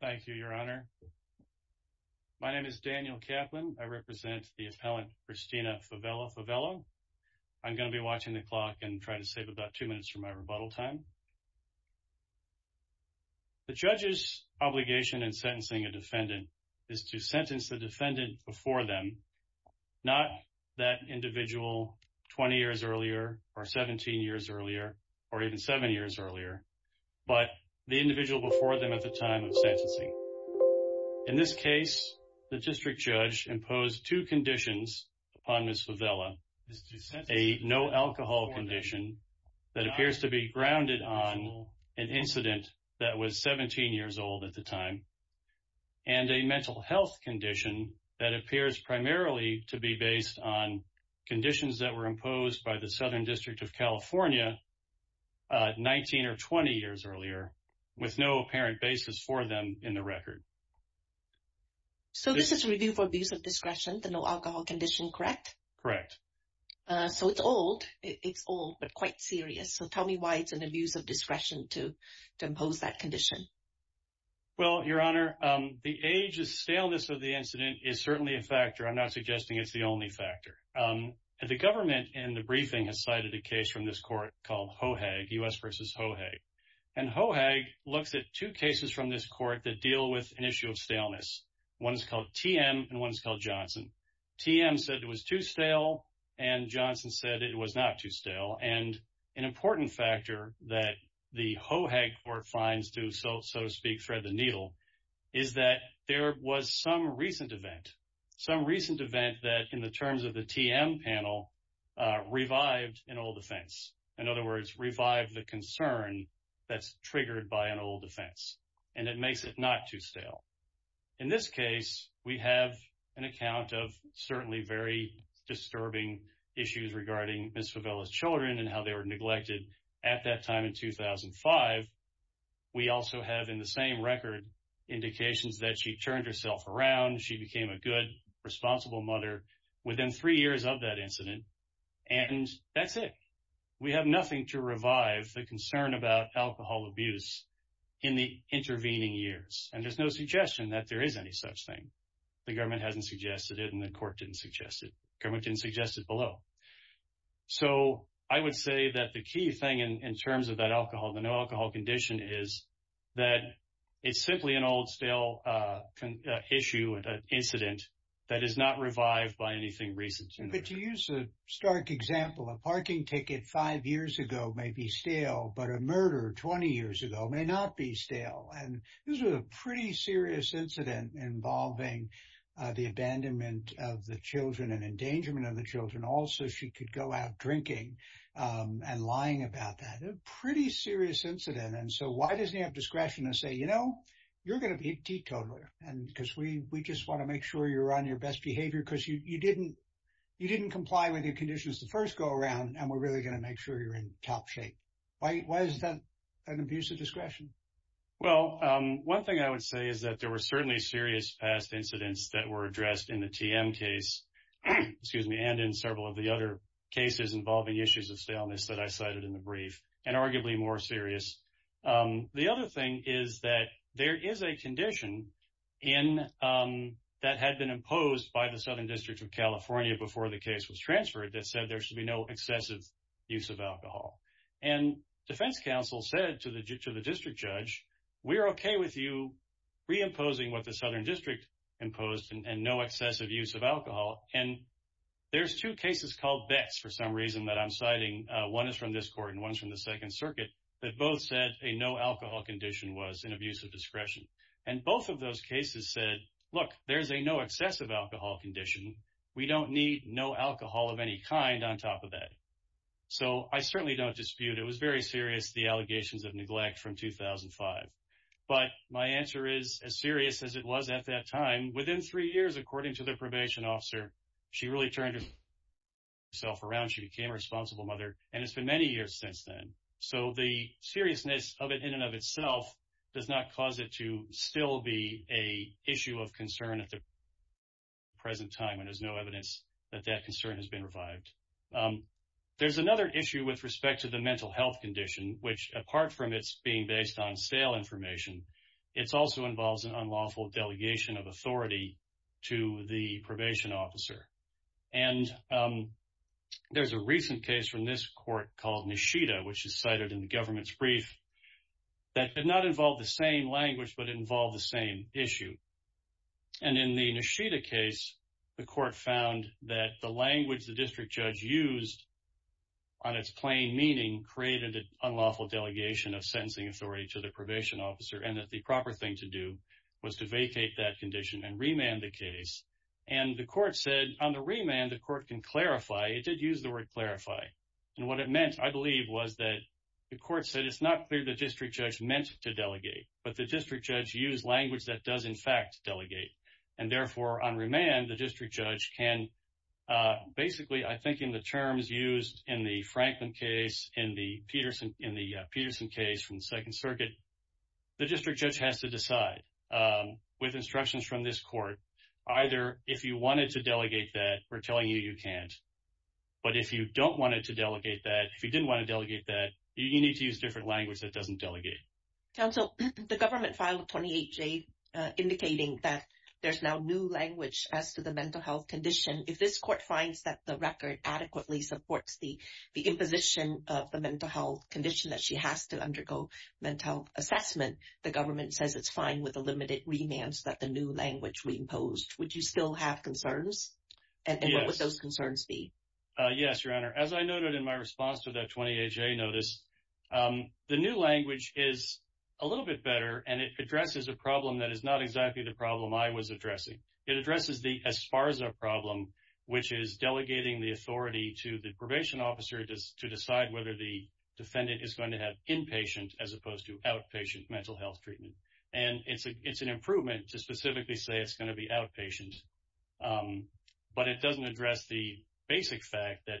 Thank you, Your Honor. My name is Daniel Kaplan. I represent the appellant Christina Favela-Favela. I'm going to be watching the clock and try to save about two minutes for my rebuttal time. The judge's obligation in sentencing a defendant is to sentence the defendant before them, not that individual 20 years earlier or 17 years earlier or even 7 years earlier, but the individual before them at the time of sentencing. In this case, the district judge imposed two conditions upon Ms. Favela, a no alcohol condition that appears to be grounded on an incident that was 17 years old at the time and a mental health condition that appears primarily to be based on conditions that were imposed by the Southern District of California 19 or 20 years earlier with no apparent basis for them in the record. So this is a review for abuse of discretion, the no alcohol condition, correct? Correct. So it's old. It's old, but quite serious. So tell me why it's an abuse of discretion to impose that condition. Well, Your Honor, the age and staleness of the incident is certainly a factor. I'm not suggesting it's the only factor. The government in the briefing has cited a case from this court called Hohag, U.S. vs. Hohag. And Hohag looks at two cases from this court that deal with an issue of staleness. One is called TM and one is called Johnson. TM said it was too stale and Johnson said it was not too stale. And an important factor that the Hohag court finds to, so to speak, thread the needle, is that there was some recent event, some recent event that in the terms of the TM panel, revived an old offense. In other words, revived the concern that's triggered by an old offense. And it makes it not too stale. In this case, we have an account of certainly very disturbing issues regarding Ms. Favella's children and how they were neglected at that time in 2005. We also have in the same record indications that she turned herself around. She became a good, responsible mother within three years of that incident. And that's it. We have nothing to revive the concern about alcohol abuse in the intervening years. And there's no suggestion that there is any such thing. The government hasn't suggested it and the court didn't suggest it. Government didn't suggest it below. So I would say that the key thing in terms of that alcohol, the no alcohol condition, is that it's simply an old stale issue, an incident that is not revived by anything recent. But to use a stark example, a parking ticket five years ago may be stale, but a murder 20 years ago may not be stale. And this was a pretty serious incident involving the abandonment of the children and endangerment of the children. Also, she could go out drinking and lying about that. A pretty serious incident. And so why doesn't he have discretion to say, you know, you're going to be a teetotaler because we just want to make sure you're on your best behavior because you didn't comply with your conditions the first go around. And we're really going to make sure you're in top shape. Why is that an abuse of discretion? Well, one thing I would say is that there were certainly serious past incidents that were addressed in the TM case, excuse me, and in several of the other cases involving issues of staleness that I cited in the brief and the other thing is that there is a condition that had been imposed by the Southern District of California before the case was transferred that said there should be no excessive use of alcohol. And defense counsel said to the district judge, we're okay with you reimposing what the Southern District imposed and no excessive use of alcohol. And there's two cases called Beck's for some reason that I'm citing. One is from this court and one's from the Second Circuit that both said a no alcohol condition was an abuse of discretion. And both of those cases said, look, there's a no excessive alcohol condition. We don't need no alcohol of any kind on top of that. So I certainly don't dispute, it was very serious, the allegations of neglect from 2005. But my answer is as serious as it was at that time, within three years, according to the probation officer, she really turned herself around, she became a responsible mother, and it's been many years since then. So the seriousness of it in and of itself does not cause it to still be a issue of concern at the present time and there's no evidence that that concern has been revived. There's another issue with respect to the mental health condition, which apart from its being based on sale information, it also involves an unlawful delegation of authority to the probation officer. And there's a recent case from this court called Nishida, which is cited in the government's brief, that did not involve the same language but involved the same issue. And in the Nishida case, the court found that the language the district judge used on its plain meaning created an unlawful delegation of sentencing authority to the probation officer and that the proper thing to do was to vacate that condition and remand the case. And the court said on the remand the court can clarify, it did use the word clarify, and what it meant I believe was that the court said it's not clear the district judge meant to delegate but the district judge used language that does in fact delegate. And therefore on remand the district judge can basically, I think in the terms used in the Franklin case, in the Peterson case from the Second Circuit, the district judge has to decide with instructions from this court, either if you can't, but if you don't want it to delegate that, if you didn't want to delegate that, you need to use different language that doesn't delegate. Counsel, the government filed a 28-J indicating that there's now new language as to the mental health condition. If this court finds that the record adequately supports the the imposition of the mental health condition that she has to undergo mental health assessment, the government says it's fine with a limited remand so that the new language reimposed. Would you still have concerns? And what would those concerns be? Yes, Your Honor. As I noted in my response to that 28-J notice, the new language is a little bit better and it addresses a problem that is not exactly the problem I was addressing. It addresses the ESPARZA problem, which is delegating the authority to the probation officer to decide whether the defendant is going to have inpatient as opposed to outpatient mental health treatment. And it's an improvement to specifically say it's going to be outpatient. But it doesn't address the basic fact that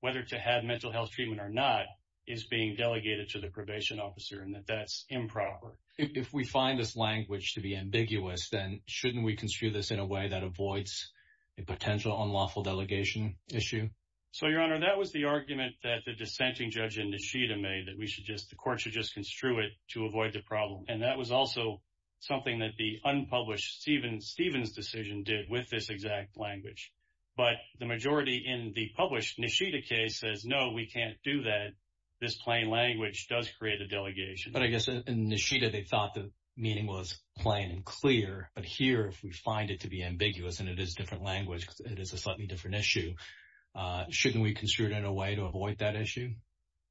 whether to have mental health treatment or not is being delegated to the probation officer and that that's improper. If we find this language to be ambiguous, then shouldn't we construe this in a way that avoids a potential unlawful delegation issue? So, Your Honor, that was the argument that the dissenting judge in Nishida made that we should just, the court should just construe it to avoid the problem. And that was also something that the unpublished Stevens' decision did with this exact language. But the majority in the published Nishida case says, no, we can't do that. This plain language does create a delegation. But I guess in Nishida, they thought the meaning was plain and clear. But here, if we find it to be ambiguous and it is different language, it is a slightly different issue. Shouldn't we construe it in a way to avoid that issue?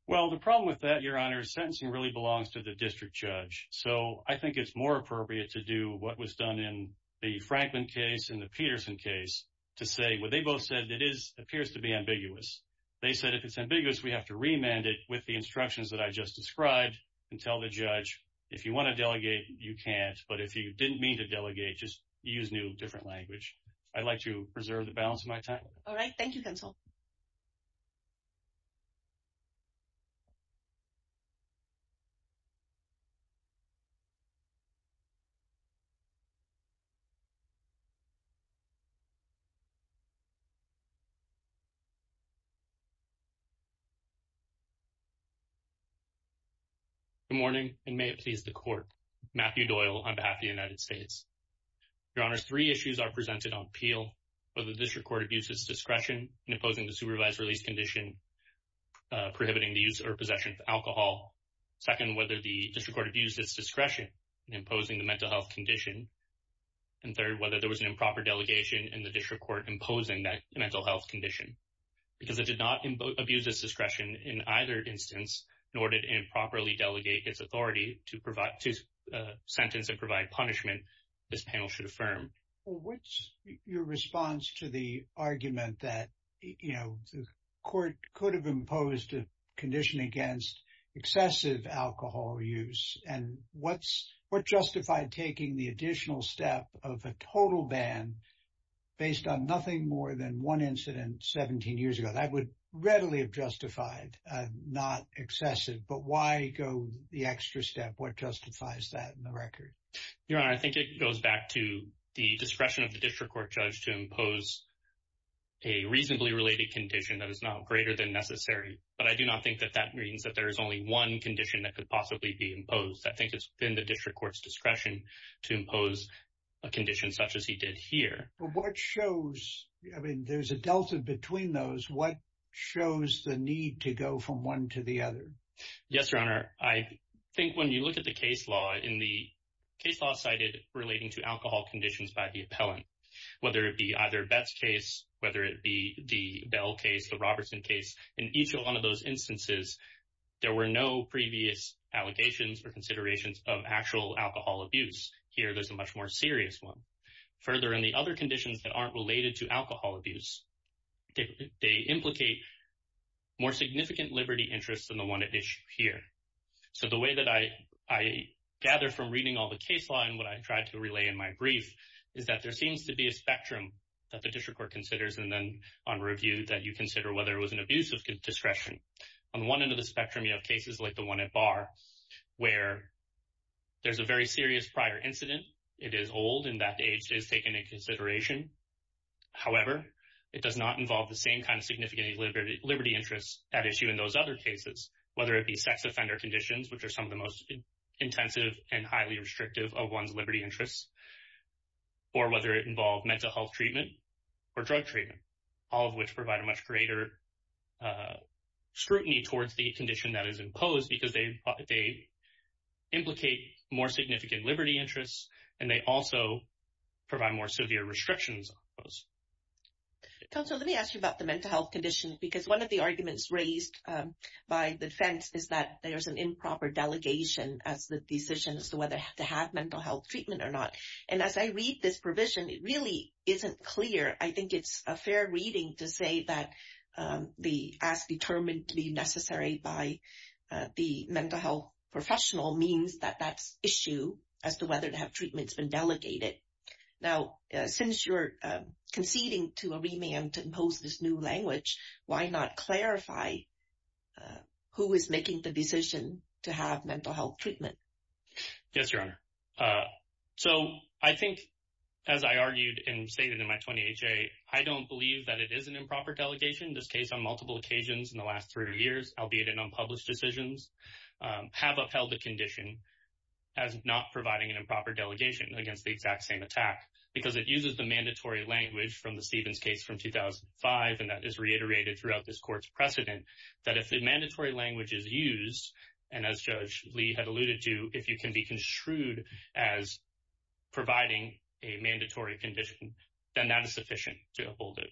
Well, the problem with that, Your Honor, is sentencing really belongs to the district judge. So, I think it's more appropriate to do what was done in the Franklin case and the Peterson case to say what they both said it is appears to be ambiguous. They said if it's ambiguous, we have to remand it with the instructions that I just described and tell the judge, if you want to delegate, you can't. But if you didn't mean to delegate, just use new different language. I'd like to preserve it. Good morning and may it please the court. Matthew Doyle on behalf of the United States. Your Honor, three issues are presented on appeal, whether this record abuses discretion in opposing the supervised release condition prohibiting the use or possession of alcohol. Second, whether the district court abused its discretion in imposing the mental health condition. And third, whether there was an improper delegation in the district court imposing that mental health condition because it did not abuse its discretion in either instance in order to improperly delegate its authority to sentence and provide punishment, this panel should affirm. What's your response to the argument that the court could have imposed a condition against excessive alcohol use? And what's what justified taking the additional step of a total ban based on nothing more than one incident 17 years ago? That would readily have justified not excessive. But why go the extra step? What justifies that in the record? Your Honor, I think it goes back to the discretion of the district court judge to impose a necessary, but I do not think that that means that there is only one condition that could possibly be imposed. I think it's been the district court's discretion to impose a condition such as he did here. What shows? I mean, there's a delta between those. What shows the need to go from one to the other? Yes, Your Honor. I think when you look at the case law in the case law cited relating to alcohol conditions by the appellant, whether it be either that's case, whether it be the bell case, the Robertson case in each one of those instances, there were no previous allegations or considerations of actual alcohol abuse. Here, there's a much more serious one. Further, in the other conditions that aren't related to alcohol abuse, they implicate more significant liberty interests in the one issue here. So the way that I gather from reading all the case law and what I tried to relay in my brief is that there seems to be a spectrum that the district court considers and then on review that you consider whether it was an abuse of discretion. On one end of the spectrum, you have cases like the one at Barr where there's a very serious prior incident. It is old and that age is taken in consideration. However, it does not involve the same kind of significant liberty interests at issue in those other cases, whether it be sex offender conditions, which are some of the most intensive and highly restrictive of one's liberty interests or whether it involved mental health treatment or drug treatment, all of which provide a much greater scrutiny towards the condition that is imposed because they implicate more significant liberty interests and they also provide more severe restrictions on those. Counselor, let me ask you about the mental health condition because one of the arguments raised by the defense is that there's an improper delegation as the decision as to whether to have mental health treatment or not. And as I read this provision, it really isn't clear. I think it's a fair reading to say that the as determined to be necessary by the mental health professional means that that's issue as to whether to have treatments been delegated. Now, since you're conceding to a remand to impose this new language, why not clarify who is making the decision to have mental health treatment? Yes, Your Honor. So I think, as I argued and stated in my 20HA, I don't believe that it is an improper delegation. This case on multiple occasions in the last three years, albeit in unpublished decisions, have upheld the condition as not providing an improper delegation against the exact same attack because it uses the mandatory language from the Stevens case from 2005. And that is mandatory language is used. And as Judge Lee had alluded to, if you can be construed as providing a mandatory condition, then that is sufficient to uphold it.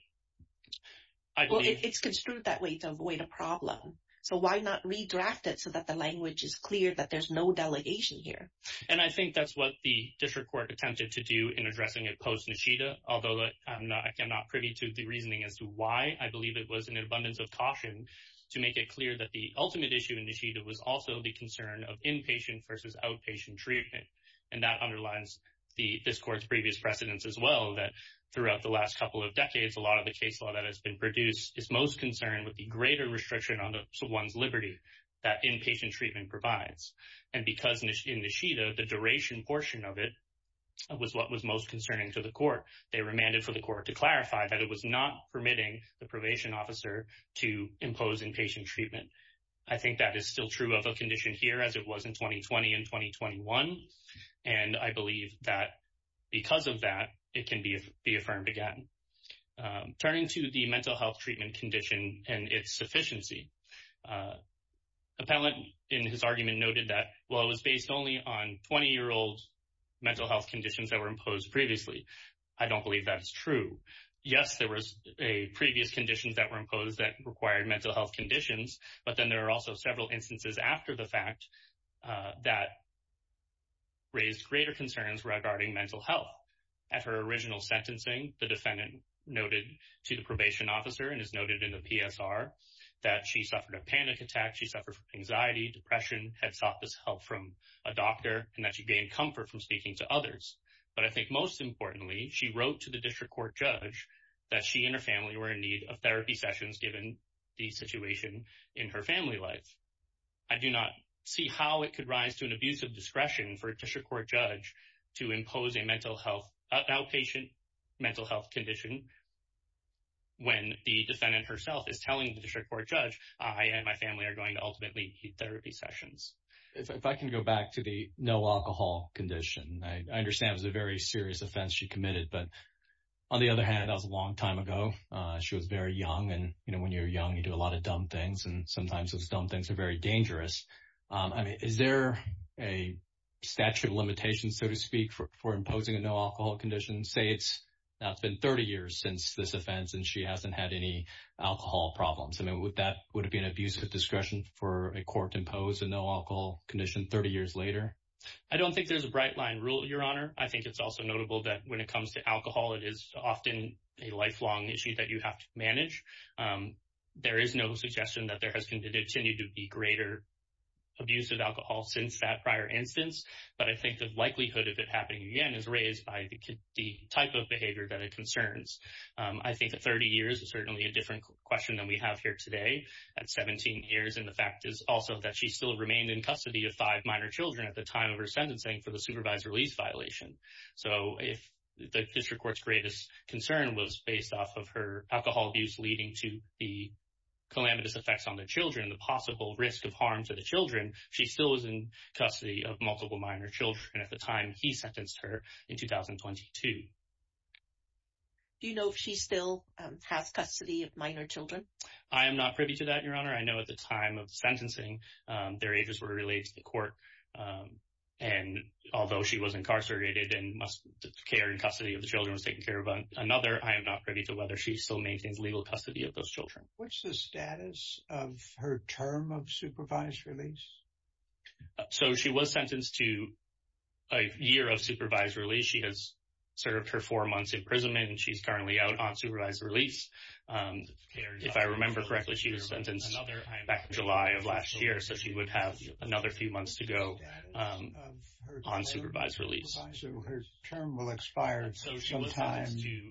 I believe it's construed that way to avoid a problem. So why not redraft it so that the language is clear that there's no delegation here? And I think that's what the district court attempted to do in addressing it post Nishida, although I'm not privy to the reasoning as to why I believe it was an abundance of caution to make it clear that the ultimate issue in Nishida was also the concern of inpatient versus outpatient treatment. And that underlines this court's previous precedence as well, that throughout the last couple of decades, a lot of the case law that has been produced is most concerned with the greater restriction on one's liberty that inpatient treatment provides. And because in Nishida, the duration portion of it was what was most concerning to the court. They remanded for the court to clarify that it was not permitting the probation officer to impose inpatient treatment. I think that is still true of a condition here as it was in 2020 and 2021. And I believe that because of that, it can be be affirmed again. Turning to the mental health treatment condition and its sufficiency. Appellant in his argument noted that while it was based only on 20 year old mental health conditions that were imposed previously, I don't believe that is true. Yes, there was a previous conditions that were imposed that required mental health conditions. But then there are also several instances after the fact that raised greater concerns regarding mental health. At her original sentencing, the defendant noted to the probation officer and is noted in the PSR that she suffered a panic attack. She suffered from anxiety. Depression had sought this help from a doctor and that she gained comfort from speaking to others. But I most importantly, she wrote to the district court judge that she and her family were in need of therapy sessions. Given the situation in her family life, I do not see how it could rise to an abuse of discretion for a district court judge to impose a mental health outpatient mental health condition. When the defendant herself is telling the district court judge, I and my family are going to ultimately therapy sessions. If I can go back to the no offense she committed. But on the other hand, I was a long time ago. She was very young. And when you're young, you do a lot of dumb things. And sometimes those dumb things are very dangerous. I mean, is there a statute of limitations, so to speak, for imposing a no alcohol condition? Say it's not been 30 years since this offense, and she hasn't had any alcohol problems. I mean, would that would be an abuse of discretion for a court impose a no alcohol condition 30 years later? I don't think there's a bright line rule, Your Honor. I think it's also notable that when it comes to alcohol, it is often a lifelong issue that you have to manage. Um, there is no suggestion that there has continued to be greater abuse of alcohol since that prior instance. But I think the likelihood of it happening again is raised by the type of behavior that it concerns. I think that 30 years is certainly a different question than we have here today at 17 years. And the fact is also that she still remained in custody of five minor Children at the time of her sentencing for the improvised release violation. So if the district court's greatest concern was based off of her alcohol abuse, leading to the calamitous effects on the Children, the possible risk of harm to the Children, she still is in custody of multiple minor Children at the time he sentenced her in 2022. Do you know if she still has custody of minor Children? I am not privy to that, Your Honor. I know at the time of sentencing, their ages were related to court. Um, and although she was incarcerated and must care in custody of the Children was taking care of another, I am not privy to whether she still maintains legal custody of those Children. What's the status of her term of supervised release? So she was sentenced to a year of supervised release. She has served her four months imprisonment, and she's currently out on supervised release. Um, if I remember correctly, she was sentenced back in July of last year, so she would have another few months to go, um, on supervised release. So her term will expire at some time.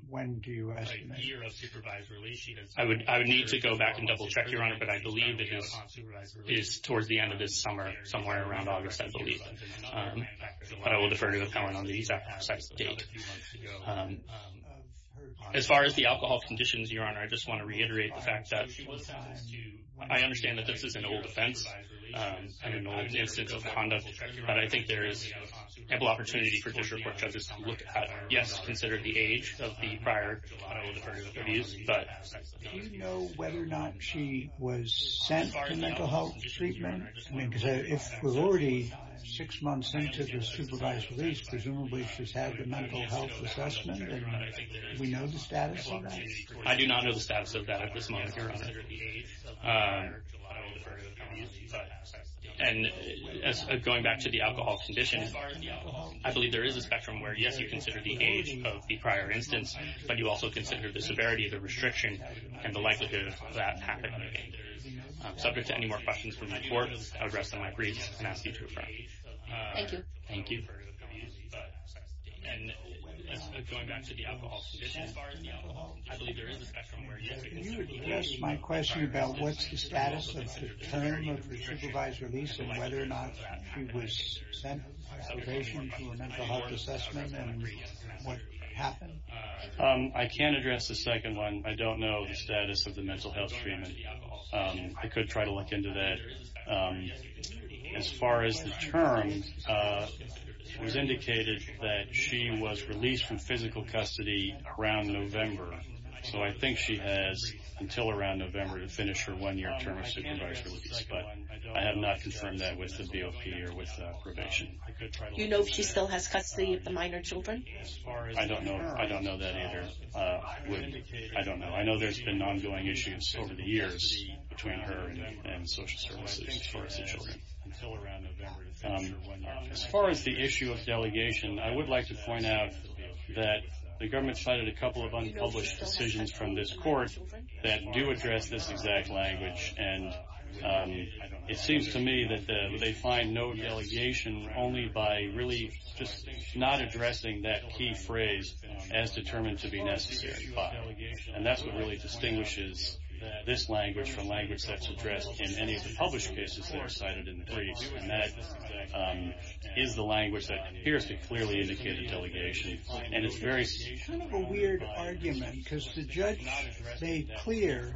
When do you? I would. I would need to go back and double check your honor. But I believe that this is towards the end of this summer, somewhere around August, I believe. Um, but I will defer to a felon on the exact date. Um, as far as the alcohol conditions, Your Honor, I just want to reiterate the fact that I understand that this is an old offense, an old instance of conduct. But I think there is ample opportunity for this report judges. Look, yes, consider the age of the prior. But do you know whether or not she was sent to mental health treatment? Because if we're already six months into the supervised release, presumably she's had the mental health assessment. We know the status of that at this moment, Your Honor. Um, and going back to the alcohol conditions, I believe there is a spectrum where, yes, you consider the age of the prior instance, but you also consider the severity of the restriction and the likelihood of that happening. Subject to any more questions from my court, I would rest on my briefs and ask you to refer. Thank you. Thank you. And going back to the alcohol conditions, as far as the yes, my question about what's the status of the term of the supervised release and whether or not he was sent probation for a mental health assessment. And what happened? I can't address the second one. I don't know the status of the mental health treatment. I could try to look into that. Um, as far as the term, uh, was indicated that she was released from until around November to finish her one year term of supervised release. But I have not confirmed that with the B. O. P. Or with probation. You know, if she still has custody of the minor Children, I don't know. I don't know that either. Uh, I don't know. I know there's been ongoing issues over the years between her and social services towards the Children until around November. As far as the issue of delegation, I would like to point out that the government cited a couple of unpublished decisions from this court that do address this exact language. And, um, it seems to me that they find no delegation only by really just not addressing that key phrase as determined to be necessary. And that's what really distinguishes this language from language that's addressed in any of the published cases that are cited in the briefs. And that, um, is the language that appears to clearly indicate the delegation. And it's very kind of a weird argument because the clear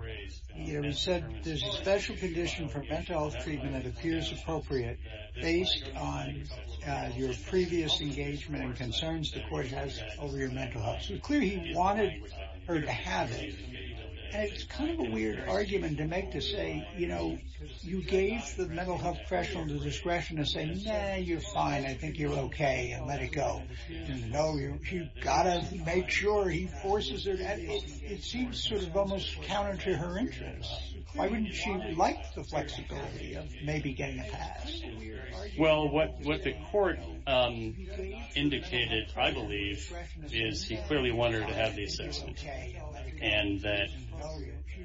you said there's a special condition for mental health treatment that appears appropriate based on your previous engagement and concerns the court has over your mental health. So clearly he wanted her to have it. It's kind of a weird argument to make to say, you know, you gave the mental health professional the discretion to say, No, you're fine. I think you're okay. Let it go. No, you gotta make sure he forces it. It seems sort of almost counter to her interest. Why wouldn't you like the flexibility of maybe getting a pass? Well, what the court, um, indicated, I believe, is he clearly wanted to have the assessment and that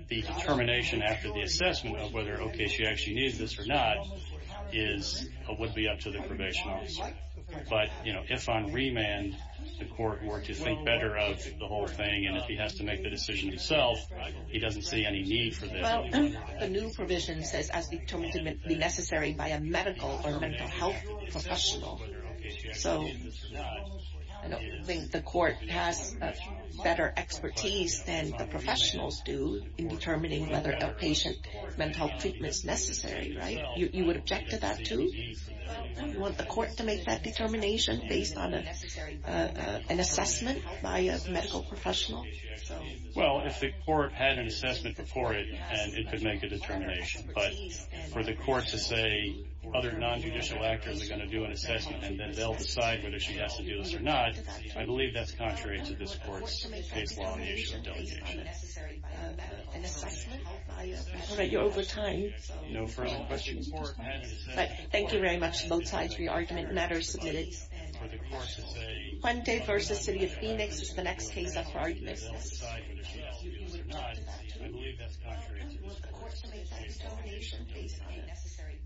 the determination after the assessment of whether, okay, she actually needs this or not is would be up to the probation officer. But if on remand, the court were to think better of the whole thing, and if he has to make the decision himself, he doesn't see any need for the new provision says as determined to be necessary by a medical or mental health professional. So I don't think the court has better expertise than the professionals do in determining whether a patient mental treatments necessary, right? You would object to that to want the court to medical professional. Well, if the court had an assessment before it and it could make a determination, but for the court to say other non judicial actors are gonna do an assessment and then they'll decide whether she has to do this or not. I believe that's contrary to this court's case law on the issue of delegation. All right, you're over time. No further questions. Thank you very much. Both sides. Re argument matters submitted. One day versus city Phoenix. The next case up for our business. I believe that's contrary to the court's determination based on necessary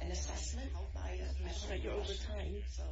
an assessment. I don't want to go over time, so